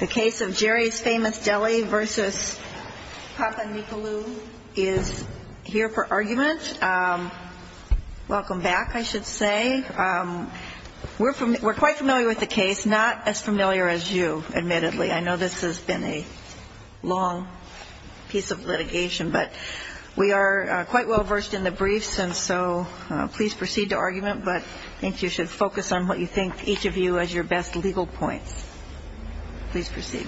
The case of Jerry's Famous Deli v. Papanicolaou is here for argument. Welcome back, I should say. We're quite familiar with the case, not as familiar as you, admittedly. I know this has been a long piece of litigation, but we are quite well versed in the briefs, and so please proceed to argument, but I think you should focus on what you think is the case. Each of you has your best legal points. Please proceed.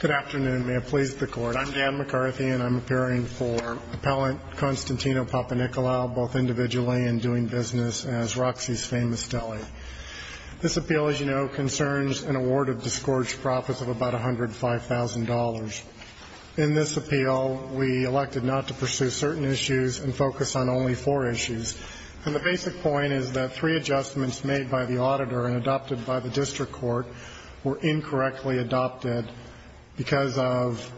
Good afternoon. May it please the Court. I'm Dan McCarthy, and I'm appearing for Appellant Constantino Papanicolaou, both individually and doing business as Roxy's Famous Deli. This appeal, as you know, concerns an award of disgorged profits of about $105,000. In this appeal, we elected not to pursue certain issues and focused on only four issues, and the basic point is that three adjustments made by the auditor and adopted by the district court were incorrectly adopted because of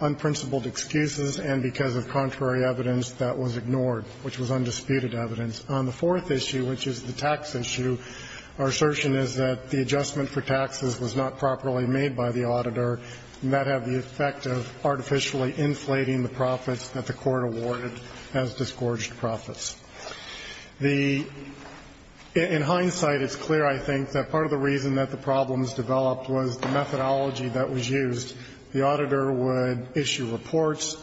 unprincipled excuses and because of contrary evidence that was ignored, which was undisputed evidence. On the fourth issue, which is the tax issue, our assertion is that the adjustment for taxes was not properly made by the auditor, and that had the effect of artificially inflating the profits that the court awarded as disgorged profits. The – in hindsight, it's clear, I think, that part of the reason that the problems developed was the methodology that was used. The auditor would issue reports.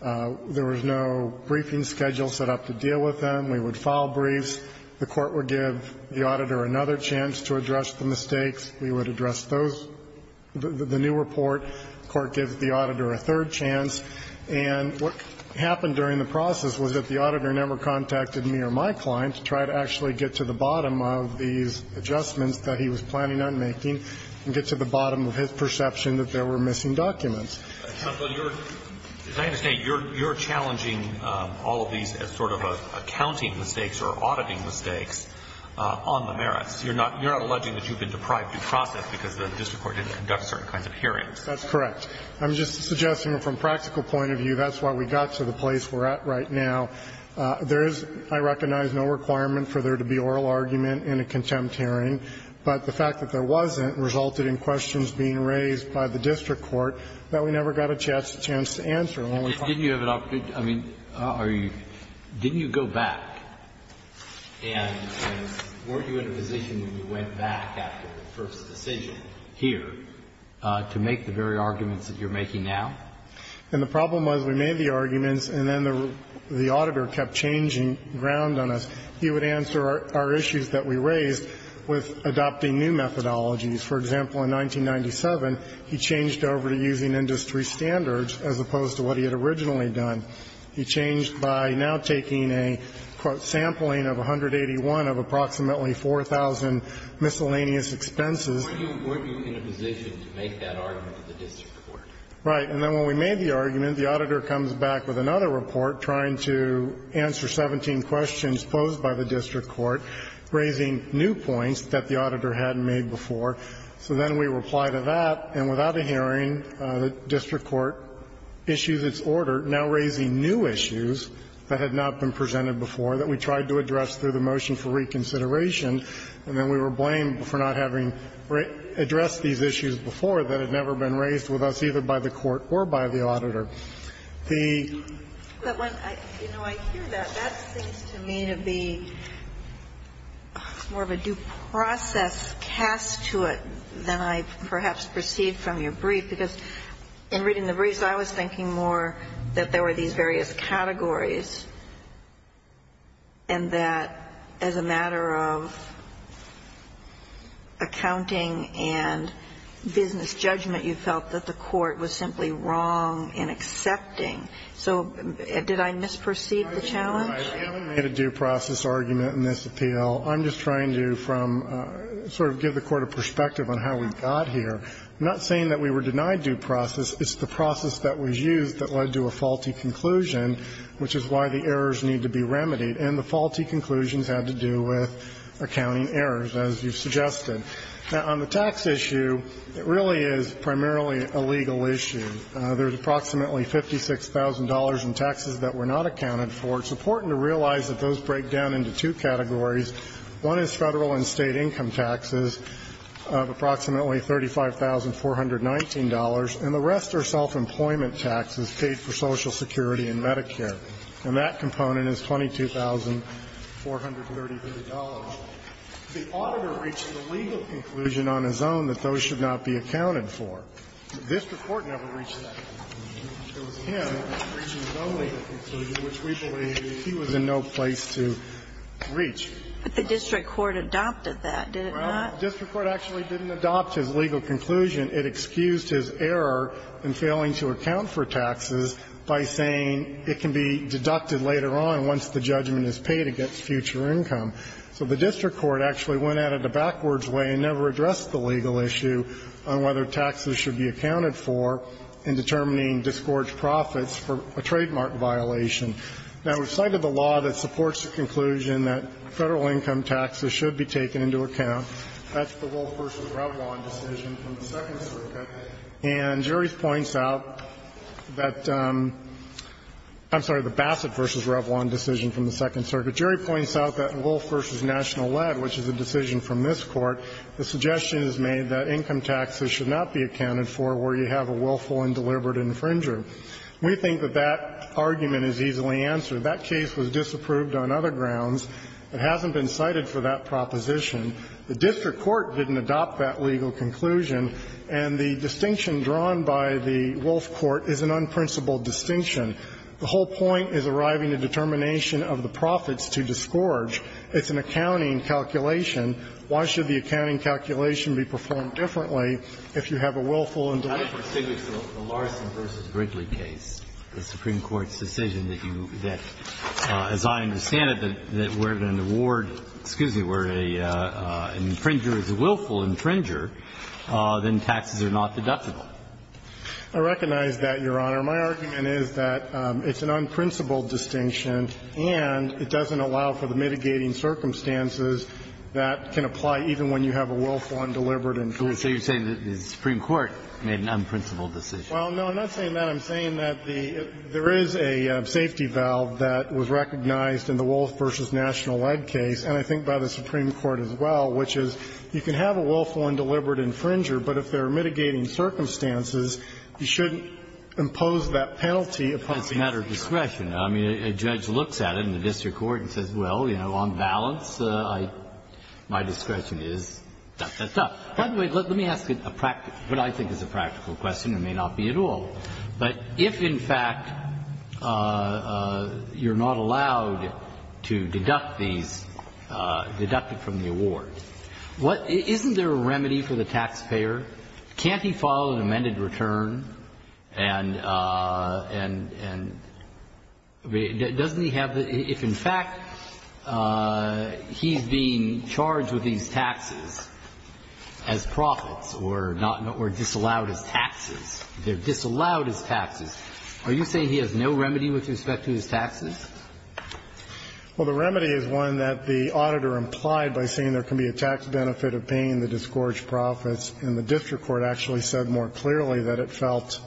There was no briefing schedule set up to deal with them. We would file briefs. The court would give the auditor another chance to address the mistakes. We would address those – the new report. The court gives the auditor a third chance. And what happened during the process was that the auditor never contacted me or my client to try to actually get to the bottom of these adjustments that he was planning on making and get to the bottom of his perception that there were missing documents. Alito, you're – as I understand it, you're challenging all of these as sort of accounting mistakes or auditing mistakes on the merits. You're not – you're not alleging that you've been deprived due process because the district court didn't conduct certain kinds of hearings. That's correct. I'm just suggesting from a practical point of view, that's why we got to the place we're at right now. There is, I recognize, no requirement for there to be oral argument in a contempt hearing, but the fact that there wasn't resulted in questions being raised by the auditor, we never got a chance to answer them. Didn't you have an opportunity – I mean, are you – didn't you go back and weren't you in a position when you went back after the first decision here to make the very arguments that you're making now? And the problem was we made the arguments and then the auditor kept changing ground on us. He would answer our issues that we raised with adopting new methodologies. For example, in 1997, he changed over to using industry standards, as opposed to what he had originally done. He changed by now taking a, quote, sampling of 181 of approximately 4,000 miscellaneous expenses. Were you in a position to make that argument to the district court? Right. And then when we made the argument, the auditor comes back with another report trying to answer 17 questions posed by the district court, raising new points that the auditor hadn't made before. So then we reply to that, and without a hearing, the district court issues its order now raising new issues that had not been presented before that we tried to address through the motion for reconsideration, and then we were blamed for not having addressed these issues before that had never been raised with us, either by the court or by the auditor. The – But when I, you know, I hear that, that seems to me to be more of a due process cast to it than I perhaps perceived from your brief, because in reading the briefs I was thinking more that there were these various categories, and that as a matter of accounting and business judgment, you felt that the court was simply wrong in accepting. So did I misperceive the challenge? I made a due process argument in this appeal. I'm just trying to, from – sort of give the Court a perspective on how we got here. I'm not saying that we were denied due process. It's the process that was used that led to a faulty conclusion, which is why the errors need to be remedied. And the faulty conclusions had to do with accounting errors, as you suggested. Now, on the tax issue, it really is primarily a legal issue. There's approximately $56,000 in taxes that were not accounted for. It's important to realize that those break down into two categories. One is Federal and State income taxes of approximately $35,419, and the rest are self-employment taxes paid for Social Security and Medicare. And that component is $22,433. The auditor reached a legal conclusion on his own that those should not be accounted for. The district court never reached that. It was him reaching his own legal conclusion, which we believe he was in no place to reach. But the district court adopted that, did it not? Well, the district court actually didn't adopt his legal conclusion. It excused his error in failing to account for taxes by saying it can be deducted later on once the judgment is paid against future income. So the district court actually went at it a backwards way and never addressed the legal issue on whether taxes should be accounted for in determining disgorged profits for a trademark violation. Now, we've cited the law that supports the conclusion that Federal income taxes should be taken into account. That's the Wolf v. Revlon decision from the Second Circuit. And jury points out that the Bassett v. Revlon decision from the Second Circuit. But jury points out that in Wolf v. National Lead, which is a decision from this Court, the suggestion is made that income taxes should not be accounted for where you have a willful and deliberate infringer. We think that that argument is easily answered. That case was disapproved on other grounds. It hasn't been cited for that proposition. The district court didn't adopt that legal conclusion. And the distinction drawn by the Wolf Court is an unprincipled distinction. The whole point is arriving at determination of the profits to disgorge. It's an accounting calculation. Why should the accounting calculation be performed differently if you have a willful and deliberate infringer? I don't think it's the Larson v. Brinkley case, the Supreme Court's decision that you that, as I understand it, that we're going to award, excuse me, where an infringer is a willful infringer, then taxes are not deductible. I recognize that, Your Honor. My argument is that it's an unprincipled distinction, and it doesn't allow for the mitigating circumstances that can apply even when you have a willful and deliberate infringer. So you're saying that the Supreme Court made an unprincipled decision? Well, no, I'm not saying that. I'm saying that there is a safety valve that was recognized in the Wolf v. National Lead case, and I think by the Supreme Court as well, which is you can have a willful and deliberate infringer, but if there are mitigating circumstances, you shouldn't impose that penalty upon the infringer. It's a matter of discretion. I mean, a judge looks at it in the district court and says, well, you know, on balance, my discretion is da, da, da. By the way, let me ask you a practical question. What I think is a practical question, and it may not be at all, but if, in fact, you're not allowed to deduct these, deduct it from the award, isn't there a remedy for the taxpayer? Can't he file an amended return and doesn't he have the – if, in fact, he's being charged with these taxes as profits or not – or disallowed as taxes? They're disallowed as taxes. Are you saying he has no remedy with respect to his taxes? Well, the remedy is one that the auditor implied by saying there can be a tax benefit of paying the disgorged profits. And the district court actually said more clearly that it felt,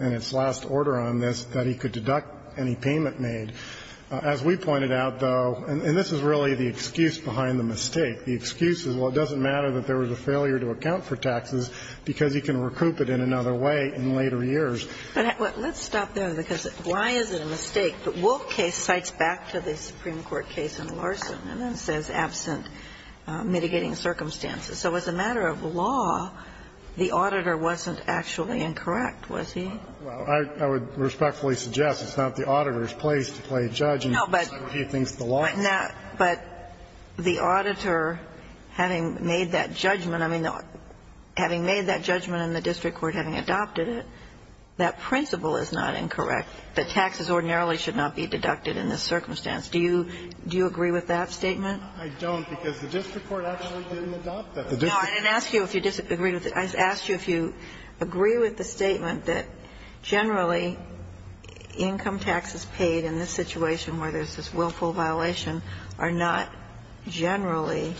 in its last order on this, that he could deduct any payment made. As we pointed out, though, and this is really the excuse behind the mistake. The excuse is, well, it doesn't matter that there was a failure to account for taxes because he can recoup it in another way in later years. But let's stop there, because why is it a mistake that Wolf case cites back to the circumstances? So as a matter of law, the auditor wasn't actually incorrect, was he? Well, I would respectfully suggest it's not the auditor's place to play a judge and say a few things to the law. But the auditor, having made that judgment, I mean, having made that judgment in the district court, having adopted it, that principle is not incorrect, that taxes ordinarily should not be deducted in this circumstance. Do you agree with that statement? I don't, because the district court actually didn't adopt that. No, I didn't ask you if you disagree with it. I asked you if you agree with the statement that generally income taxes paid in this situation where there's this willful violation are not generally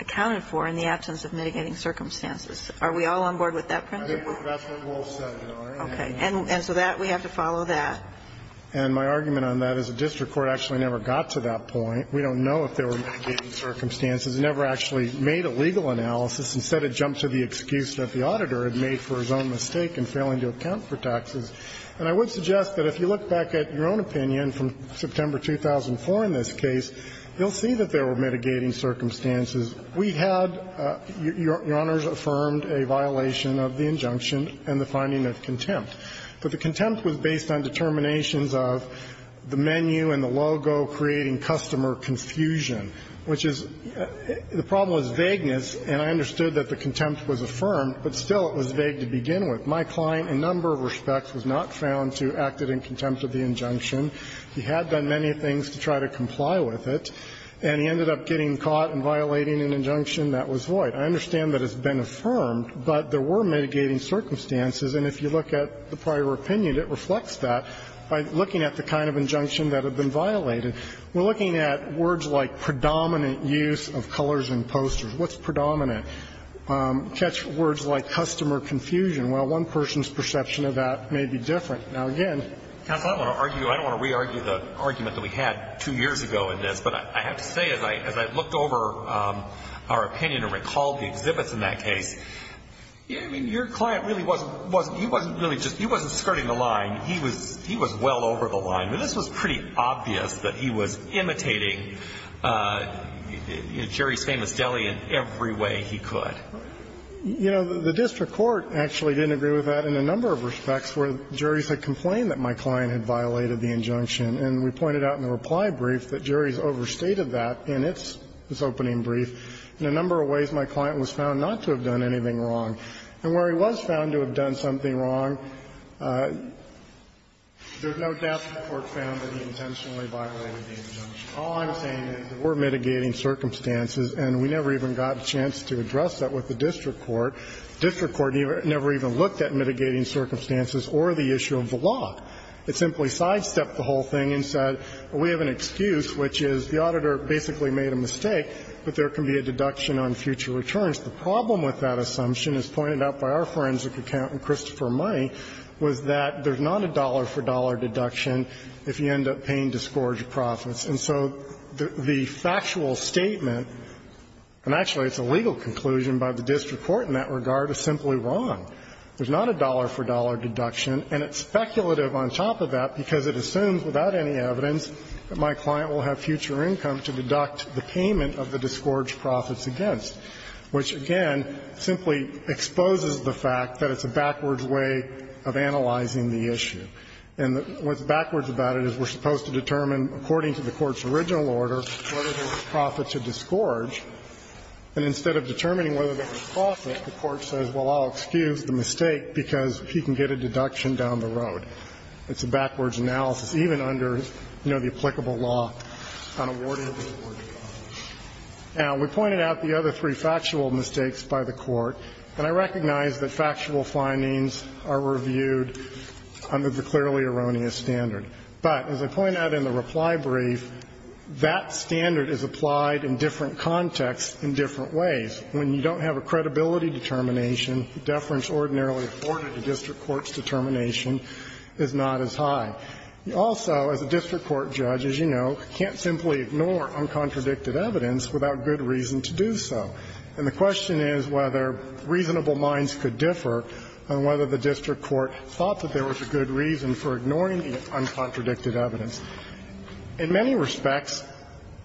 accounted for in the absence of mitigating circumstances. Are we all on board with that principle? I think that's what Wolf said, Your Honor. And so that, we have to follow that. And my argument on that is the district court actually never got to that point. We don't know if there were mitigating circumstances. It never actually made a legal analysis. Instead, it jumped to the excuse that the auditor had made for his own mistake in failing to account for taxes. And I would suggest that if you look back at your own opinion from September 2004 in this case, you'll see that there were mitigating circumstances. We had, Your Honors affirmed, a violation of the injunction and the finding of contempt. But the contempt was based on determinations of the menu and the logo creating customer confusion, which is the problem was vagueness, and I understood that the contempt was affirmed, but still it was vague to begin with. My client in a number of respects was not found to have acted in contempt of the injunction. He had done many things to try to comply with it, and he ended up getting caught and violating an injunction that was void. I understand that it's been affirmed, but there were mitigating circumstances, and if you look at the prior opinion, it reflects that by looking at the kind of injunction that had been violated. We're looking at words like predominant use of colors in posters. What's predominant? Catch words like customer confusion. Well, one person's perception of that may be different. Now, again, counsel, I don't want to argue, I don't want to re-argue the argument that we had two years ago in this, but I have to say as I looked over our opinion and recalled the exhibits in that case, I mean, your client really wasn't, he wasn't really just, he wasn't skirting the line. He was well over the line. I mean, this was pretty obvious that he was imitating Jerry's Famous Deli in every way he could. You know, the district court actually didn't agree with that in a number of respects where Jerry's had complained that my client had violated the injunction, and we pointed out in the reply brief that Jerry's overstated that in its opening brief in a number of ways my client was found not to have done anything wrong. And where he was found to have done something wrong, there's no doubt the court found that he intentionally violated the injunction. All I'm saying is there were mitigating circumstances, and we never even got a chance to address that with the district court. The district court never even looked at mitigating circumstances or the issue of the law. It simply sidestepped the whole thing and said, well, we have an excuse, which is the deduction on future returns. The problem with that assumption, as pointed out by our forensic accountant, Christopher Money, was that there's not a dollar-for-dollar deduction if you end up paying disgorged profits. And so the factual statement, and actually it's a legal conclusion by the district court in that regard, is simply wrong. There's not a dollar-for-dollar deduction, and it's speculative on top of that because it assumes without any evidence that my client will have future income to deduct the payment of the disgorged profits against, which, again, simply exposes the fact that it's a backwards way of analyzing the issue. And what's backwards about it is we're supposed to determine, according to the Court's original order, whether there was profit to disgorge, and instead of determining whether there was profit, the Court says, well, I'll excuse the mistake because he can get a deduction down the road. It's a backwards analysis, even under, you know, the applicable law on awarded or discharged profits. Now, we pointed out the other three factual mistakes by the Court, and I recognize that factual findings are reviewed under the clearly erroneous standard. But, as I point out in the reply brief, that standard is applied in different contexts in different ways. When you don't have a credibility determination, deference ordinarily afforded by the district court's determination is not as high. You also, as a district court judge, as you know, can't simply ignore uncontradicted evidence without good reason to do so. And the question is whether reasonable minds could differ on whether the district court thought that there was a good reason for ignoring the uncontradicted evidence. In many respects,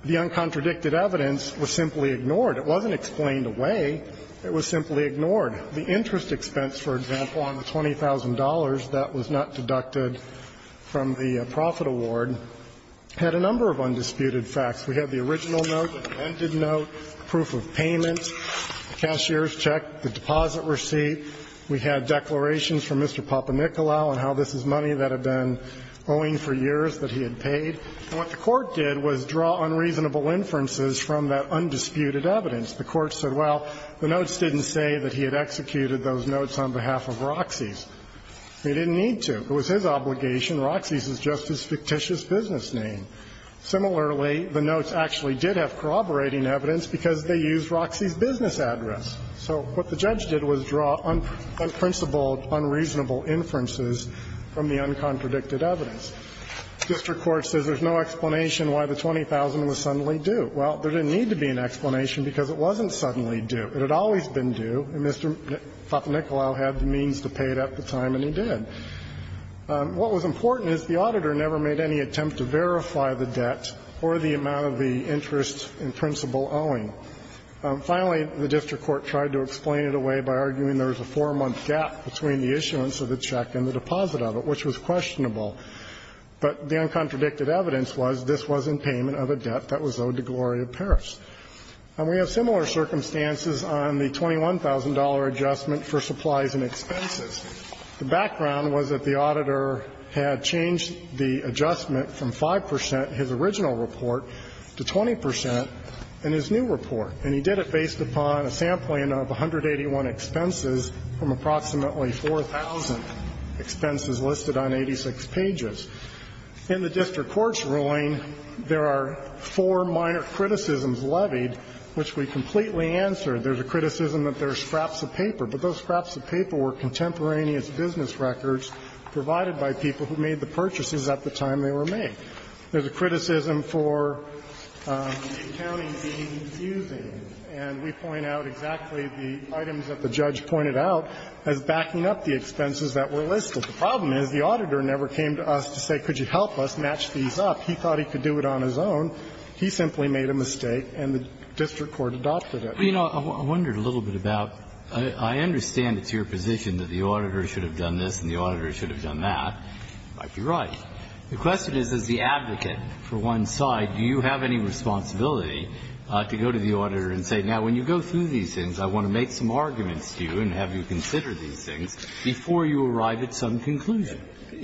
the uncontradicted evidence was simply ignored. It wasn't explained away. It was simply ignored. The interest expense, for example, on the $20,000 that was not deducted from the profit award had a number of undisputed facts. We had the original note, the demented note, proof of payment, the cashier's check, the deposit receipt. We had declarations from Mr. Papanicolau on how this is money that had been owing for years that he had paid. And what the Court did was draw unreasonable inferences from that undisputed evidence. The Court said, well, the notes didn't say that he had executed those notes on behalf of Roxie's. He didn't need to. It was his obligation. Roxie's is just his fictitious business name. Similarly, the notes actually did have corroborating evidence because they used Roxie's business address. So what the judge did was draw unprincipled, unreasonable inferences from the uncontradicted evidence. District court says there's no explanation why the $20,000 was suddenly due. Well, there didn't need to be an explanation because it wasn't suddenly due. It had always been due, and Mr. Papanicolau had the means to pay it at the time and he did. What was important is the auditor never made any attempt to verify the debt or the amount of the interest in principle owing. Finally, the district court tried to explain it away by arguing there was a 4-month gap between the issuance of the check and the deposit of it, which was questionable. But the uncontradicted evidence was this was in payment of a debt that was owed to Gloria Parrish. And we have similar circumstances on the $21,000 adjustment for supplies and expenses. The background was that the auditor had changed the adjustment from 5 percent, his original report, to 20 percent in his new report. And he did it based upon a sampling of 181 expenses from approximately 4,000 expenses listed on 86 pages. In the district court's ruling, there are four minor criticisms levied, which we completely answered. There's a criticism that there's scraps of paper, but those scraps of paper were contemporaneous business records provided by people who made the purchases at the time they were made. There's a criticism for the accounting being confusing, and we point out exactly the items that the judge pointed out as backing up the expenses that were listed. The problem is the auditor never came to us to say, could you help us match these up? He thought he could do it on his own. He simply made a mistake, and the district court adopted it. Breyer. I wondered a little bit about – I understand it's your position that the auditor should have done this and the auditor should have done that. You might be right. The question is, as the advocate for one's side, do you have any responsibility to go to the auditor and say, now, when you go through these things, I want to make some arguments to you and have you consider these things before you arrive at some conclusion?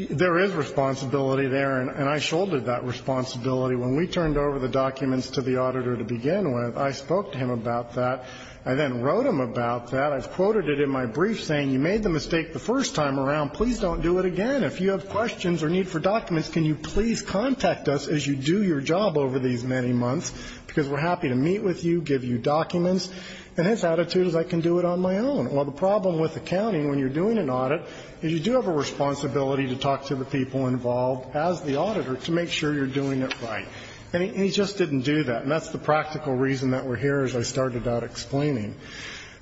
There is responsibility there, and I shouldered that responsibility. When we turned over the documents to the auditor to begin with, I spoke to him about that. I then wrote him about that. I've quoted it in my brief, saying, you made the mistake the first time around. Please don't do it again. If you have questions or need for documents, can you please contact us as you do your job over these many months, because we're happy to meet with you, give you documents. And his attitude is, I can do it on my own. Well, the problem with accounting, when you're doing an audit, is you do have a responsibility to talk to the people involved as the auditor to make sure you're doing it right. And he just didn't do that, and that's the practical reason that we're here, as I started out explaining.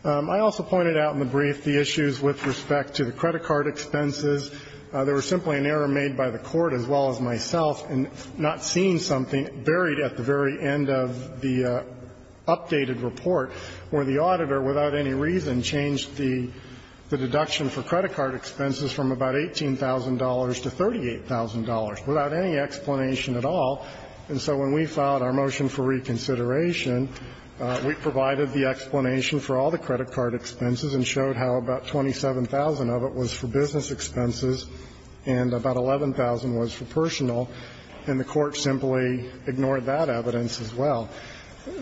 I also pointed out in the brief the issues with respect to the credit card expenses. There was simply an error made by the Court, as well as myself, in not seeing something that was in the report. It varied at the very end of the updated report, where the auditor, without any reason, changed the deduction for credit card expenses from about $18,000 to $38,000, without any explanation at all. And so when we filed our motion for reconsideration, we provided the explanation for all the credit card expenses and showed how about 27,000 of it was for business expenses, and about 11,000 was for personal. And the Court simply ignored that evidence, as well.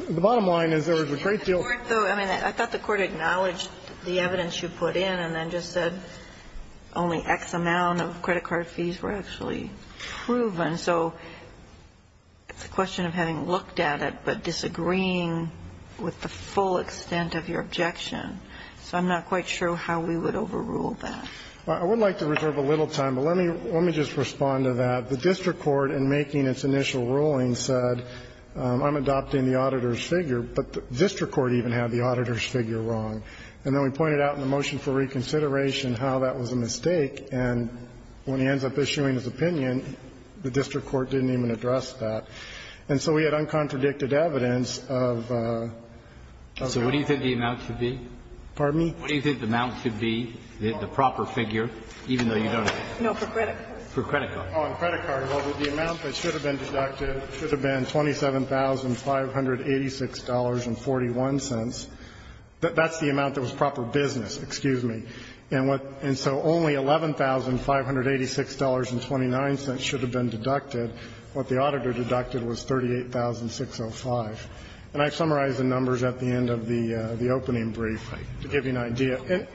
The bottom line is there was a great deal of questioning about the extent of your objection. I mean, I thought the Court acknowledged the evidence you put in and then just said only X amount of credit card fees were actually proven. So it's a question of having looked at it, but disagreeing with the full extent of your objection. So I'm not quite sure how we would overrule that. I would like to reserve a little time, but let me just respond to that. The district court, in making its initial ruling, said, I'm adopting the auditor's figure, but the district court even had the auditor's figure wrong. And then we pointed out in the motion for reconsideration how that was a mistake, and when he ends up issuing his opinion, the district court didn't even address that. And so we had uncontradicted evidence of the other. So what do you think the amount should be? Pardon me? What do you think the amount should be, the proper figure, even though you don't have it? No, for credit cards. For credit cards. Oh, on credit cards. Well, the amount that should have been deducted should have been $27,586.41. That's the amount that was proper business, excuse me. And what the auditor deducted was $38,605. And I've summarized the numbers at the end of the opening brief to give you an idea. And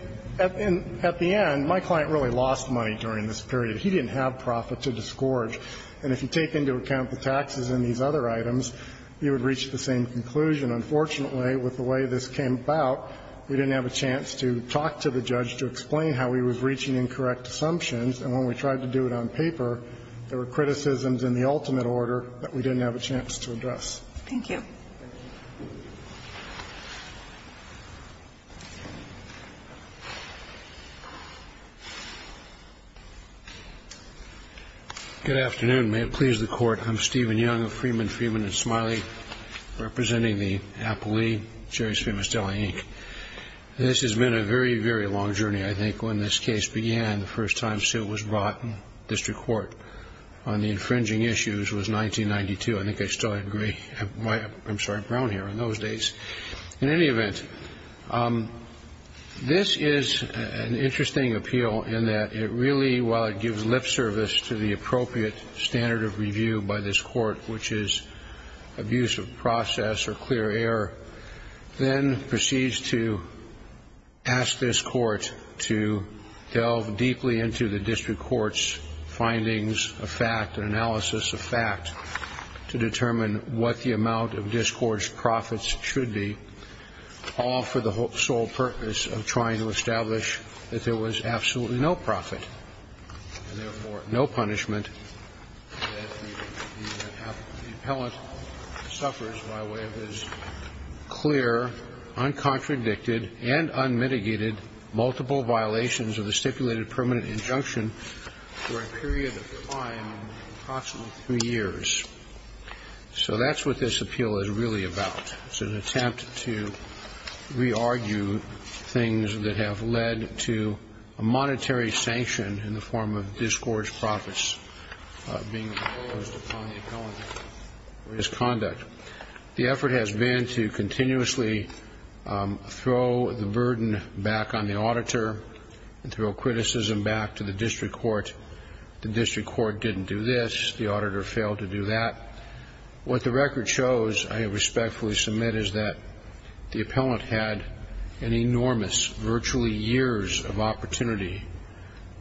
at the end, my client really lost money during this period. He didn't have profit to disgorge. And if you take into account the taxes and these other items, you would reach the same conclusion. Unfortunately, with the way this came about, we didn't have a chance to talk to the judge to explain how he was reaching incorrect assumptions, and when we tried to do it on paper, there were criticisms in the ultimate order that we didn't have a chance to address. Thank you. Thank you. Good afternoon. May it please the court. I'm Stephen Young of Freeman, Freeman & Smiley, representing the Appellee, Jerry's Famous Deli, Inc. This has been a very, very long journey, I think. When this case began, the first time Sue was brought in district court on the infringing issues was 1992. I think I still had gray, I'm sorry, brown hair in those days. In any event, this is an interesting appeal in that it really, while it gives lip service to the appropriate standard of review by this court, which is abuse of process or clear air, then proceeds to ask this court to delve deeply into the district court's findings of fact and analysis of fact to determine what the amount of discouraged profits should be, all for the sole purpose of trying to establish that there was absolutely no profit and, therefore, no punishment that the appellant suffers by way of his clear, uncontradicted, and unmitigated multiple violations of the stipulated permanent injunction for a period of time, approximately three years. So that's what this appeal is really about. It's an attempt to re-argue things that have led to a monetary sanction in the form of discouraged profits being imposed upon the appellant for his conduct. The effort has been to continuously throw the burden back on the auditor and throw criticism back to the district court. The district court didn't do this. The auditor failed to do that. What the record shows, I respectfully submit, is that the appellant had an enormous, virtually years of opportunity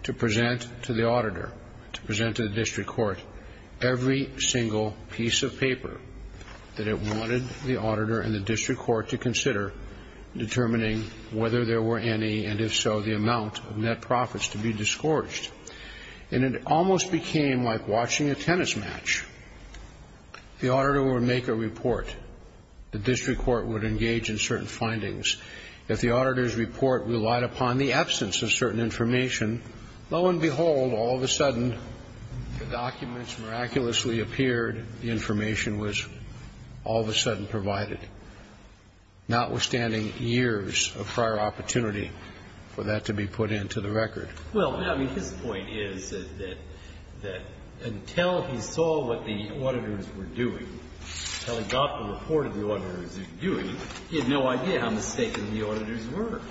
to present to the auditor, to present to the district court, a piece of paper that it wanted the auditor and the district court to consider, determining whether there were any, and if so, the amount of net profits to be discouraged. And it almost became like watching a tennis match. The auditor would make a report. The district court would engage in certain findings. If the auditor's report relied upon the absence of certain information, lo and behold, all of a sudden, the documents miraculously appeared, the information was all of a sudden provided, notwithstanding years of prior opportunity for that to be put into the record. Well, I mean, his point is that until he saw what the auditors were doing, until he got the report of the auditors' doing, he had no idea how mistaken the auditors were.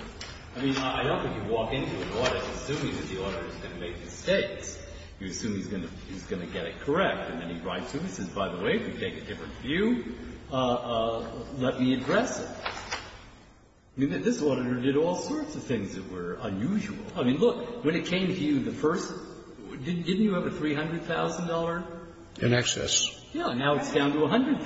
I mean, I don't think you walk into an audit assuming that the auditor is going to make mistakes. You assume he's going to get it correct, and then he writes to you and says, by the way, if you take a different view, let me address it. I mean, this auditor did all sorts of things that were unusual. I mean, look, when it came to you the first — didn't you have a $300,000? In excess. Yeah. Now it's down to $100,000.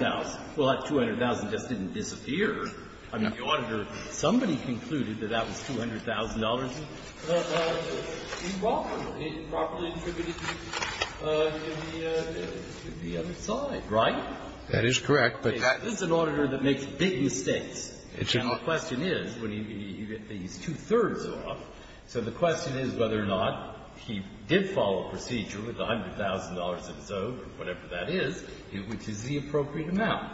Well, that $200,000 just didn't disappear. I mean, the auditor — somebody concluded that that was $200,000. He walked with it. He properly attributed it to the other side, right? That is correct, but that — This is an auditor that makes big mistakes. And the question is, when you get these two-thirds off, so the question is whether or not he did follow a procedure with the $100,000 that's owed or whatever that is, which is the appropriate amount.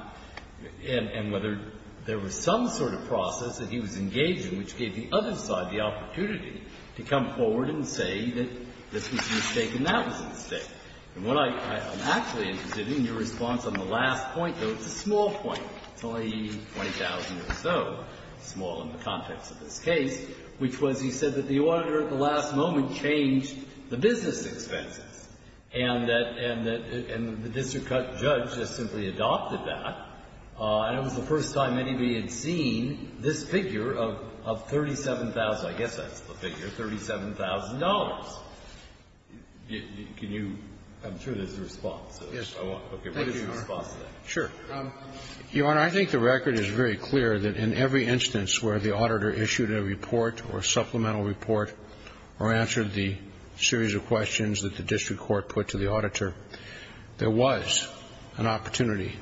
And whether there was some sort of process that he was engaged in which gave the other side the opportunity to come forward and say that this was a mistake and that was a mistake. And what I'm actually interested in, your response on the last point, though, it's a small point. It's only $20,000 or so, small in the context of this case, which was he said that the auditor at the last moment changed the business expenses. And that — and the district judge just simply adopted that. And it was the first time anybody had seen this figure of $37,000. I guess that's the figure, $37,000. Can you — I'm sure there's a response, so I want to look at what is your response to that. Sure. Your Honor, I think the record is very clear that in every instance where the auditor issued a report or supplemental report or answered the series of questions that the district court put to the auditor, there was an opportunity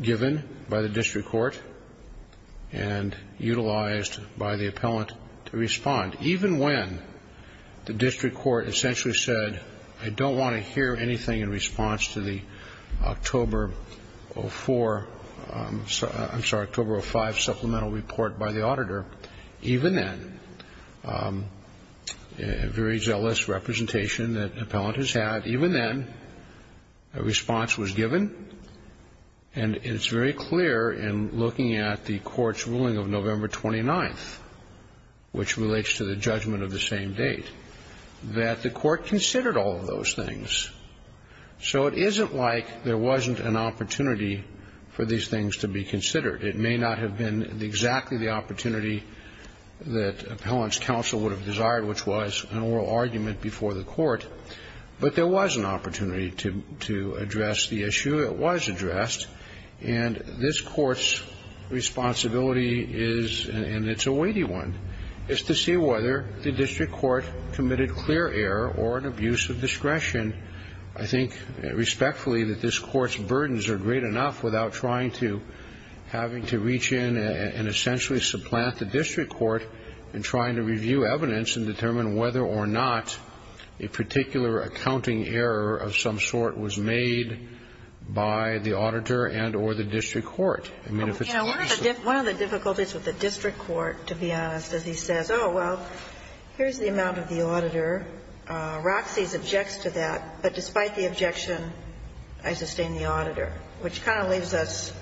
given by the district court and utilized by the appellant to respond. Even when the district court essentially said, I don't want to hear anything in response to the October 04 — I'm sorry, October 05 supplemental report by the district court, there was an opportunity given by the district court to respond. And it's very clear in looking at the court's ruling of November 29th, which relates to the judgment of the same date, that the court considered all of those things. So it isn't like there wasn't an opportunity for these things to be considered. It may not have been exactly the opportunity that appellant's counsel would have given the court, but there was an opportunity to address the issue. It was addressed. And this court's responsibility is — and it's a weighty one — is to see whether the district court committed clear error or an abuse of discretion. I think respectfully that this court's burdens are great enough without trying to — having to reach in and essentially supplant the district court in trying to review the evidence and determine whether or not a particular accounting error of some sort was made by the auditor and or the district court. I mean, if it's possible. One of the difficulties with the district court, to be honest, is he says, oh, well, here's the amount of the auditor. Roxie's objects to that, but despite the objection, I sustain the auditor, which kind of leaves us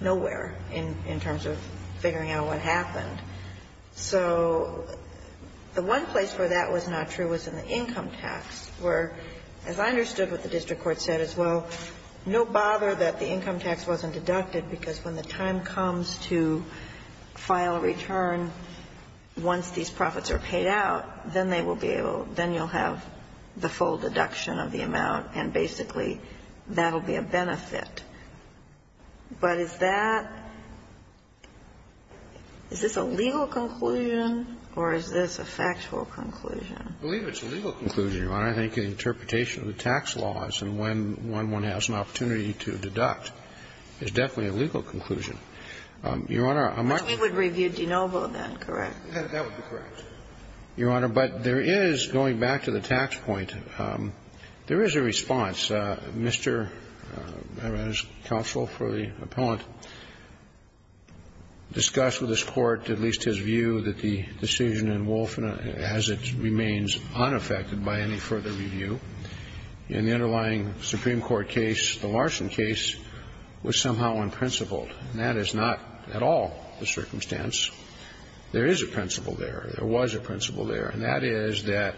nowhere in terms of figuring out what happened. So the one place where that was not true was in the income tax, where, as I understood what the district court said as well, no bother that the income tax wasn't deducted, because when the time comes to file a return, once these profits are paid out, then they will be able — then you'll have the full deduction of the amount, and basically that will be a benefit. But is that — is this a legal conclusion or is this a factual conclusion? I believe it's a legal conclusion, Your Honor. I think the interpretation of the tax laws and when one has an opportunity to deduct is definitely a legal conclusion. Your Honor, I'm not going to — But you would review DeNovo, then, correct? That would be correct, Your Honor. But there is, going back to the tax point, there is a response. Mr. Maran's counsel for the appellant discussed with his court, at least his view, that the decision in Wolf, as it remains unaffected by any further review, in the underlying Supreme Court case, the Larson case, was somehow unprincipled. And that is not at all the circumstance. There is a principle there. There was a principle there. And that is that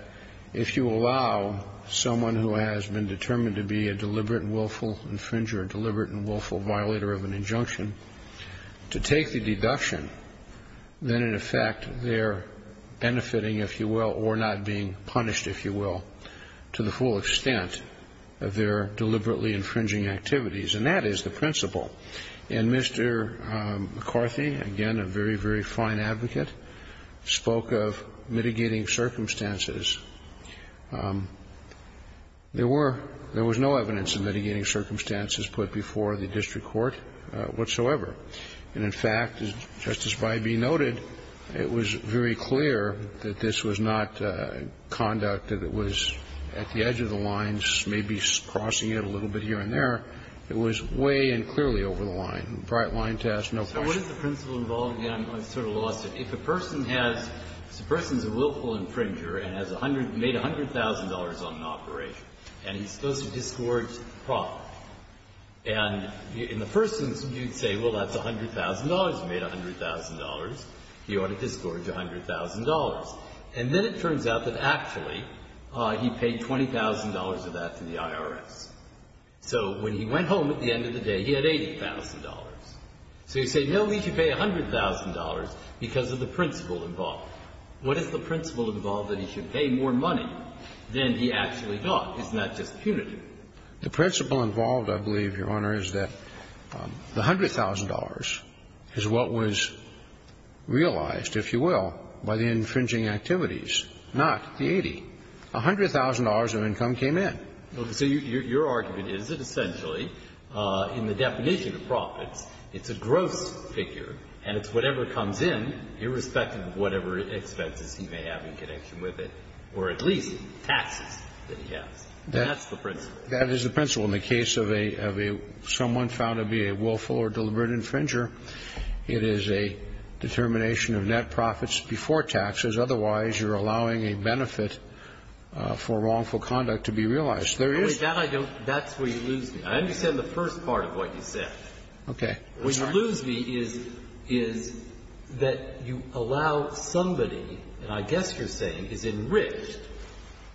if you allow someone who has been determined to be a deliberate and willful infringer, deliberate and willful violator of an injunction, to take the deduction, then, in effect, they're benefiting, if you will, or not being punished, if you will, to the full extent of their deliberately infringing activities. And that is the principle. And Mr. McCarthy, again, a very, very fine advocate, spoke of mitigating circumstances. There were — there was no evidence of mitigating circumstances put before the district court whatsoever. And, in fact, as Justice Bybee noted, it was very clear that this was not conduct that was at the edge of the lines, maybe crossing it a little bit here and there. It was way and clearly over the line, a bright line to ask no questions. Breyer. So what is the principle involved? Again, I sort of lost it. If a person has — if a person is a willful infringer and has made $100,000 on an operation and he's supposed to disgorge the property, and in the first instance you'd say, well, that's $100,000, you made $100,000, you ought to disgorge $100,000. And then it turns out that actually he paid $20,000 of that to the IRS. So when he went home at the end of the day, he had $80,000. So you say, no, he should pay $100,000 because of the principle involved. What is the principle involved that he should pay more money than he actually got? It's not just punitive. The principle involved, I believe, Your Honor, is that the $100,000 is what was realized, if you will, by the infringing activities, not the 80. $100,000 of income came in. So your argument is that essentially, in the definition of profits, it's a gross figure, and it's whatever comes in, irrespective of whatever expenses he may have in connection with it, or at least taxes that he has. That's the principle. That is the principle. In the case of a — of a — someone found to be a willful or deliberate infringer, it is a determination of net profits before taxes. Otherwise, you're allowing a benefit for wrongful conduct to be realized. There is — No, but that I don't — that's where you lose me. I understand the first part of what you said. Okay. I'm sorry. What you lose me is — is that you allow somebody, and I guess you're saying is enriched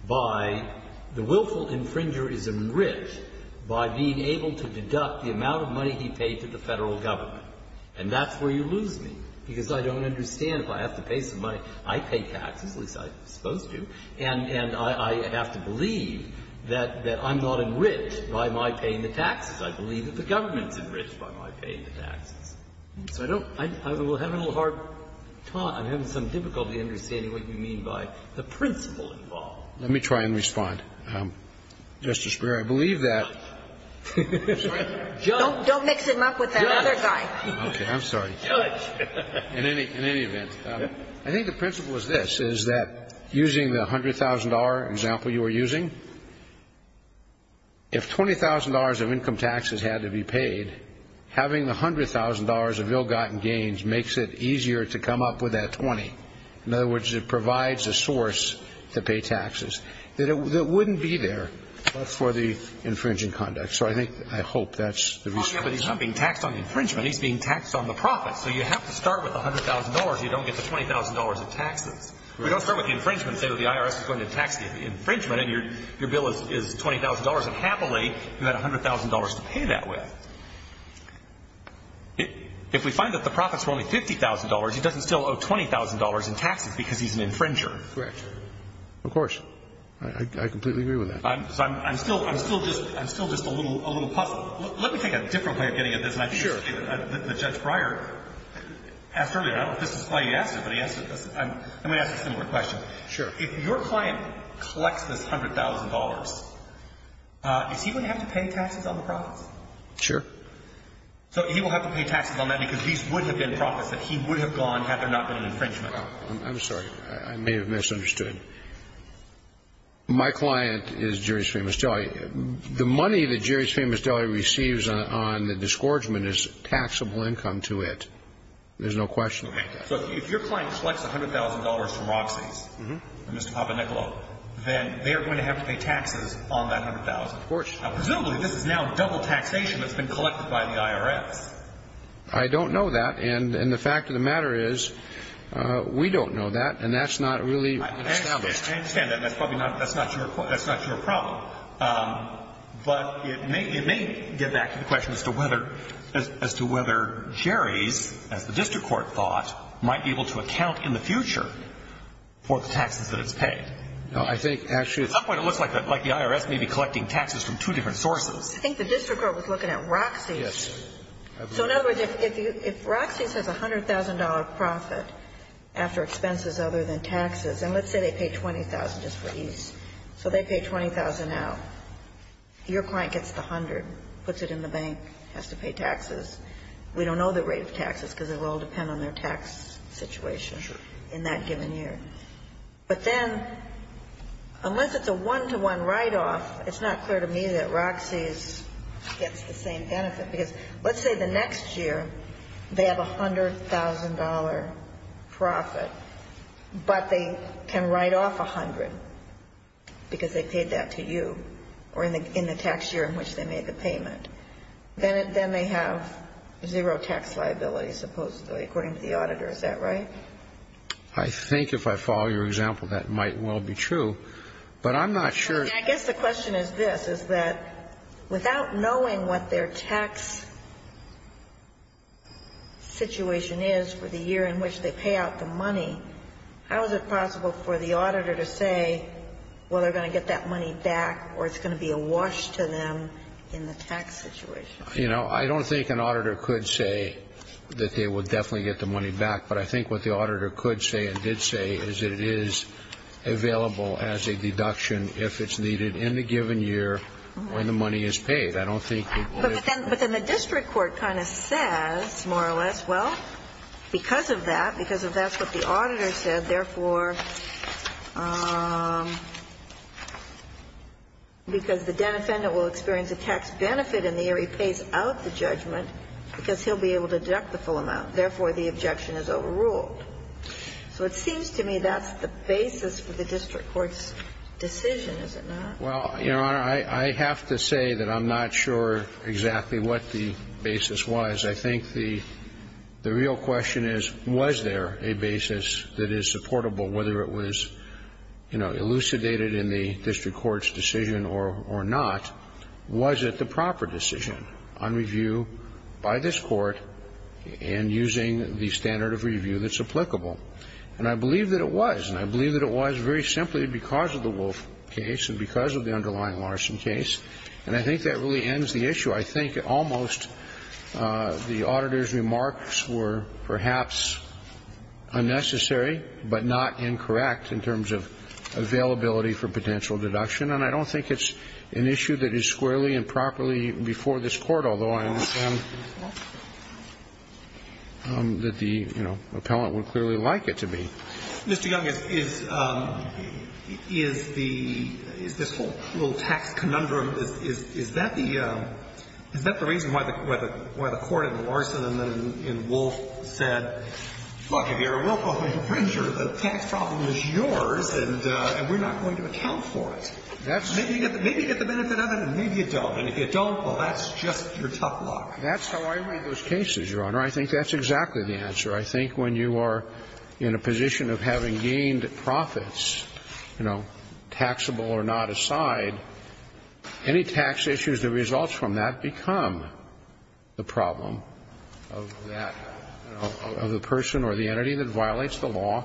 by — the willful infringer is enriched by being able to deduct the amount of money he paid to the Federal Government. And that's where you lose me, because I don't understand if I have to pay some money. I pay taxes, at least I'm supposed to, and I have to believe that I'm not enriched by my paying the taxes. I believe that the government is enriched by my paying the taxes. So I don't — I'm having a little hard time, I'm having some difficulty understanding what you mean by the principle involved. Let me try and respond. Justice Breyer, I believe that — Don't mix him up with that other guy. Okay. I'm sorry. In any — in any event. I think the principle is this, is that using the $100,000 example you were using, if $20,000 of income taxes had to be paid, having the $100,000 of ill-gotten gains makes it easier to come up with that 20. In other words, it provides a source to pay taxes. That it — that wouldn't be there for the infringing conduct. So I think — I hope that's the reason. But he's not being taxed on infringement. He's being taxed on the profits. So you have to start with $100,000 if you don't get the $20,000 of taxes. If we don't start with the infringement and say that the IRS is going to tax the infringement and your bill is $20,000, then happily, you've got $100,000 to pay that with. If we find that the profits were only $50,000, he doesn't still owe $20,000 in taxes because he's an infringer. Correct. Of course. I completely agree with that. I'm — so I'm still — I'm still just — I'm still just a little puzzled. Let me take a different way of getting at this. Sure. The Judge Breyer asked earlier — I don't know if this is why he asked it, but he asked it — let me ask a similar question. Sure. If your client collects this $100,000, is he going to have to pay taxes on the profits? Sure. So he will have to pay taxes on that because these would have been profits that he would have gone had there not been an infringement. I'm sorry. I may have misunderstood. My client is Jerry's Famous Deli. The money that Jerry's Famous Deli receives on the disgorgement is taxable income to it. There's no question. Okay. So if your client collects $100,000 from Roxy's — Mm-hmm. — and Mr. Papanicolo, then they are going to have to pay taxes on that $100,000. Of course. Now, presumably, this is now double taxation that's been collected by the IRS. I don't know that. And the fact of the matter is we don't know that, and that's not really established. I understand that. That's probably not — that's not your — that's not your problem. But it may — it may get back to the question as to whether — as to whether Jerry's, as the district court thought, might be able to account in the future for the taxes that it's paid. No. I think, actually — At some point, it looks like the IRS may be collecting taxes from two different sources. I think the district court was looking at Roxy's. Yes. So, in other words, if you — if Roxy's has a $100,000 profit after expenses other than taxes — and let's say they pay $20,000 just for ease. So they pay $20,000 out. Your client gets the $100,000, puts it in the bank, has to pay taxes. We don't know the rate of taxes, because it will depend on their tax situation in that given year. Sure. But then, unless it's a one-to-one write-off, it's not clear to me that Roxy's gets the same benefit. Because let's say the next year, they have a $100,000 profit, but they can write off $100,000 because they paid that to you, or in the tax year in which they made the payment. Then they have zero tax liability, supposedly, according to the auditor. Is that right? I think, if I follow your example, that might well be true. But I'm not sure — I guess the question is this, is that without knowing what their tax situation is for the year in which they pay out the money, how is it possible for the auditor to say, well, they're going to get that money back, or it's going to be a wash to them in the tax situation? You know, I don't think an auditor could say that they would definitely get the money back. But I think what the auditor could say and did say is that it is available as a deduction if it's needed in the given year when the money is paid. I don't think it would have been. But then the district court kind of says, more or less, well, because of that, because of that's what the auditor said, therefore, because the defendant will experience a tax benefit in the year he pays out the judgment, because he'll be able to deduct the full amount, therefore, the objection is overruled. So it seems to me that's the basis for the district court's decision, is it not? Well, Your Honor, I have to say that I'm not sure exactly what the basis was. I think the real question is, was there a basis that is supportable, whether it was, you know, elucidated in the district court's decision or not, was it the proper decision on review by this Court and using the standard of review that's applicable? And I believe that it was. And I believe that it was very simply because of the Wolf case and because of the underlying Larson case. And I think that really ends the issue. I think almost the auditor's remarks were perhaps unnecessary but not incorrect in terms of availability for potential deduction. And I don't think it's an issue that is squarely and properly before this Court, although I understand that the, you know, appellant would clearly like it to be. Mr. Young, is this whole little tax conundrum, is that the reason why the Court in Larson and then in Wolf said, look, if you're a Wilco infringer, the tax problem is yours and we're not going to account for it? Maybe you get the benefit of it and maybe you don't. And if you don't, well, that's just your tough luck. That's how I read those cases, Your Honor. I think that's exactly the answer. I think when you are in a position of having gained profits, you know, taxable or not aside, any tax issues that result from that become the problem of that, of the person or the entity that violates the law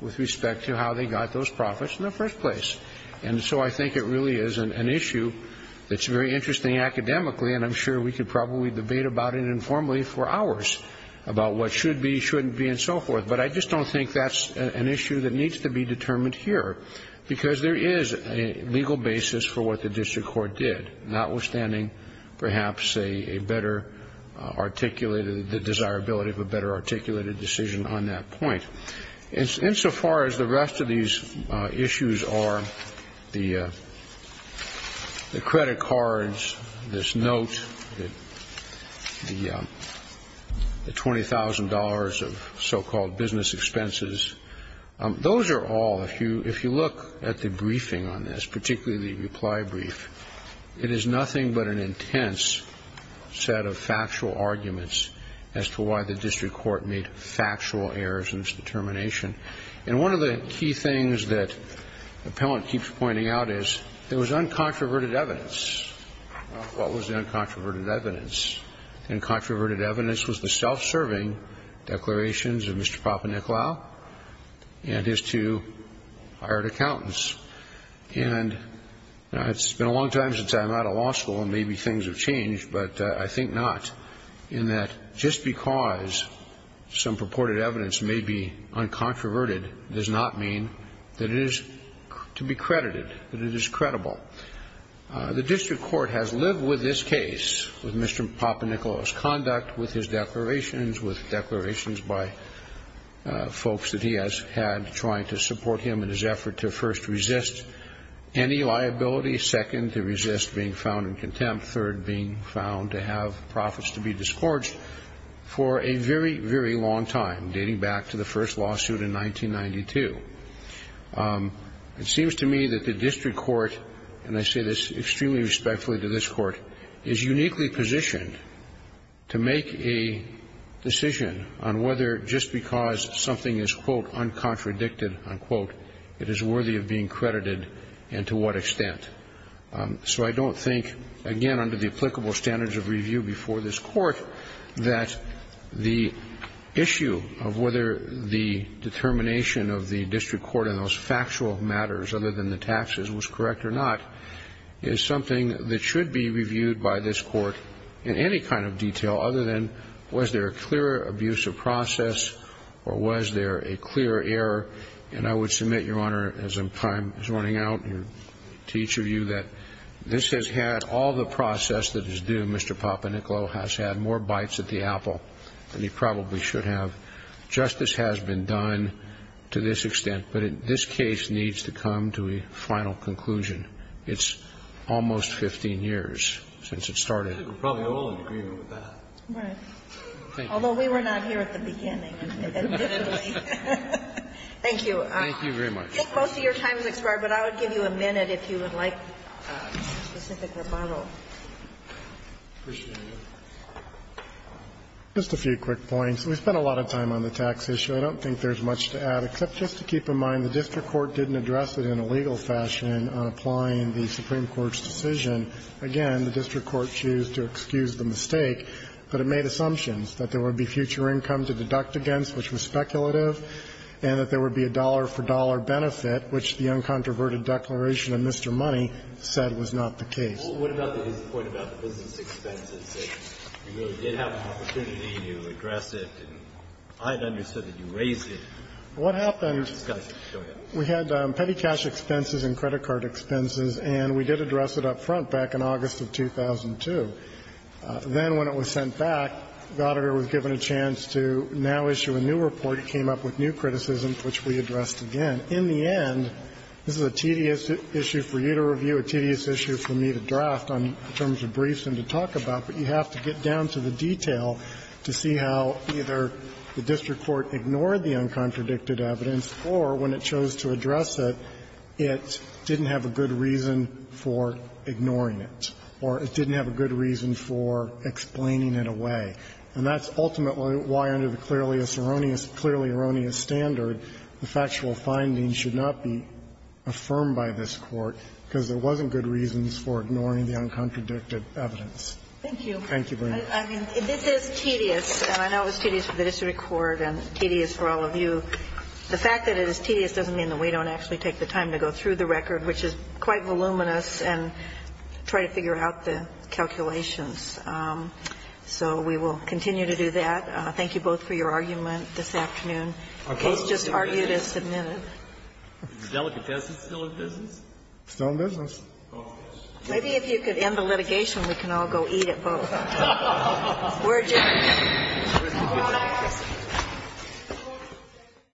with respect to how they got those profits in the first place. And so I think it really is an issue that's very interesting academically and I'm sure we could probably debate about it informally for hours about what should be, shouldn't be, and so forth. But I just don't think that's an issue that needs to be determined here because there is a legal basis for what the district court did, notwithstanding perhaps a better articulated, the desirability of a better articulated decision on that point. Insofar as the rest of these issues are, the credit cards, this note, the $20,000 of so-called business expenses, those are all, if you look at the briefing on this, particularly the reply brief, it is nothing but an intense set of factual arguments as to why the district court made factual errors in its determination. And one of the key things that the appellant keeps pointing out is there was uncontroverted evidence. What was the uncontroverted evidence? The uncontroverted evidence was the self-serving declarations of Mr. And it's been a long time since I'm out of law school and maybe things have changed, but I think not, in that just because some purported evidence may be uncontroverted does not mean that it is to be credited, that it is credible. The district court has lived with this case, with Mr. Papadopoulos' conduct, with his declarations, with declarations by folks that he has had trying to support him in his efforts to resist any liability, second, to resist being found in contempt, third, being found to have profits to be disgorged, for a very, very long time, dating back to the first lawsuit in 1992. It seems to me that the district court, and I say this extremely respectfully to this court, is uniquely positioned to make a decision on whether just because something is, quote, uncontradicted, unquote, it is worthy of being credited and to what extent. So I don't think, again, under the applicable standards of review before this court, that the issue of whether the determination of the district court in those factual matters, other than the taxes, was correct or not, is something that should be reviewed by this court in any kind of detail other than was there a clear abuse of process or was there a clear error. And I would submit, Your Honor, as time is running out to each of you, that this has had all the process that is due. Mr. Papadopoulos has had more bites at the apple than he probably should have. Justice has been done to this extent, but this case needs to come to a final conclusion. It's almost 15 years since it started. Roberts. Although we were not here at the beginning. Thank you. Thank you very much. Most of your time has expired, but I would give you a minute if you would like a specific rebuttal. Appreciate it. Just a few quick points. We spent a lot of time on the tax issue. I don't think there's much to add, except just to keep in mind the district court didn't address it in a legal fashion on applying the Supreme Court's decision. Again, the district court chose to excuse the mistake, but it made assumptions that there would be future income to deduct against, which was speculative, and that there would be a dollar-for-dollar benefit, which the uncontroverted declaration of Mr. Money said was not the case. What about the point about the business expenses? You really did have an opportunity to address it, and I had understood that you raised it. What happened? Go ahead. We had petty cash expenses and credit card expenses, and we did address it up front back in August of 2002. Then when it was sent back, Goddard was given a chance to now issue a new report. It came up with new criticisms, which we addressed again. In the end, this is a tedious issue for you to review, a tedious issue for me to draft in terms of briefs and to talk about, but you have to get down to the detail to see how either the district court ignored the uncontradicted evidence, or when it chose to address it, it didn't have a good reason for ignoring it, or it didn't have a good reason for explaining it away. And that's ultimately why, under the clearly erroneous standard, the factual findings should not be affirmed by this Court, because there wasn't good reasons for ignoring the uncontradicted evidence. Thank you. Thank you very much. I mean, this is tedious, and I know it's tedious for the district court and tedious for all of you. The fact that it is tedious doesn't mean that we don't actually take the time to go through the record, which is quite voluminous, and try to figure out the calculations. So we will continue to do that. Thank you both for your argument this afternoon. The case just argued is submitted. Is Delicatessen still in business? Still in business. Maybe if you could end the litigation, we can all go eat at both. We're adjourned.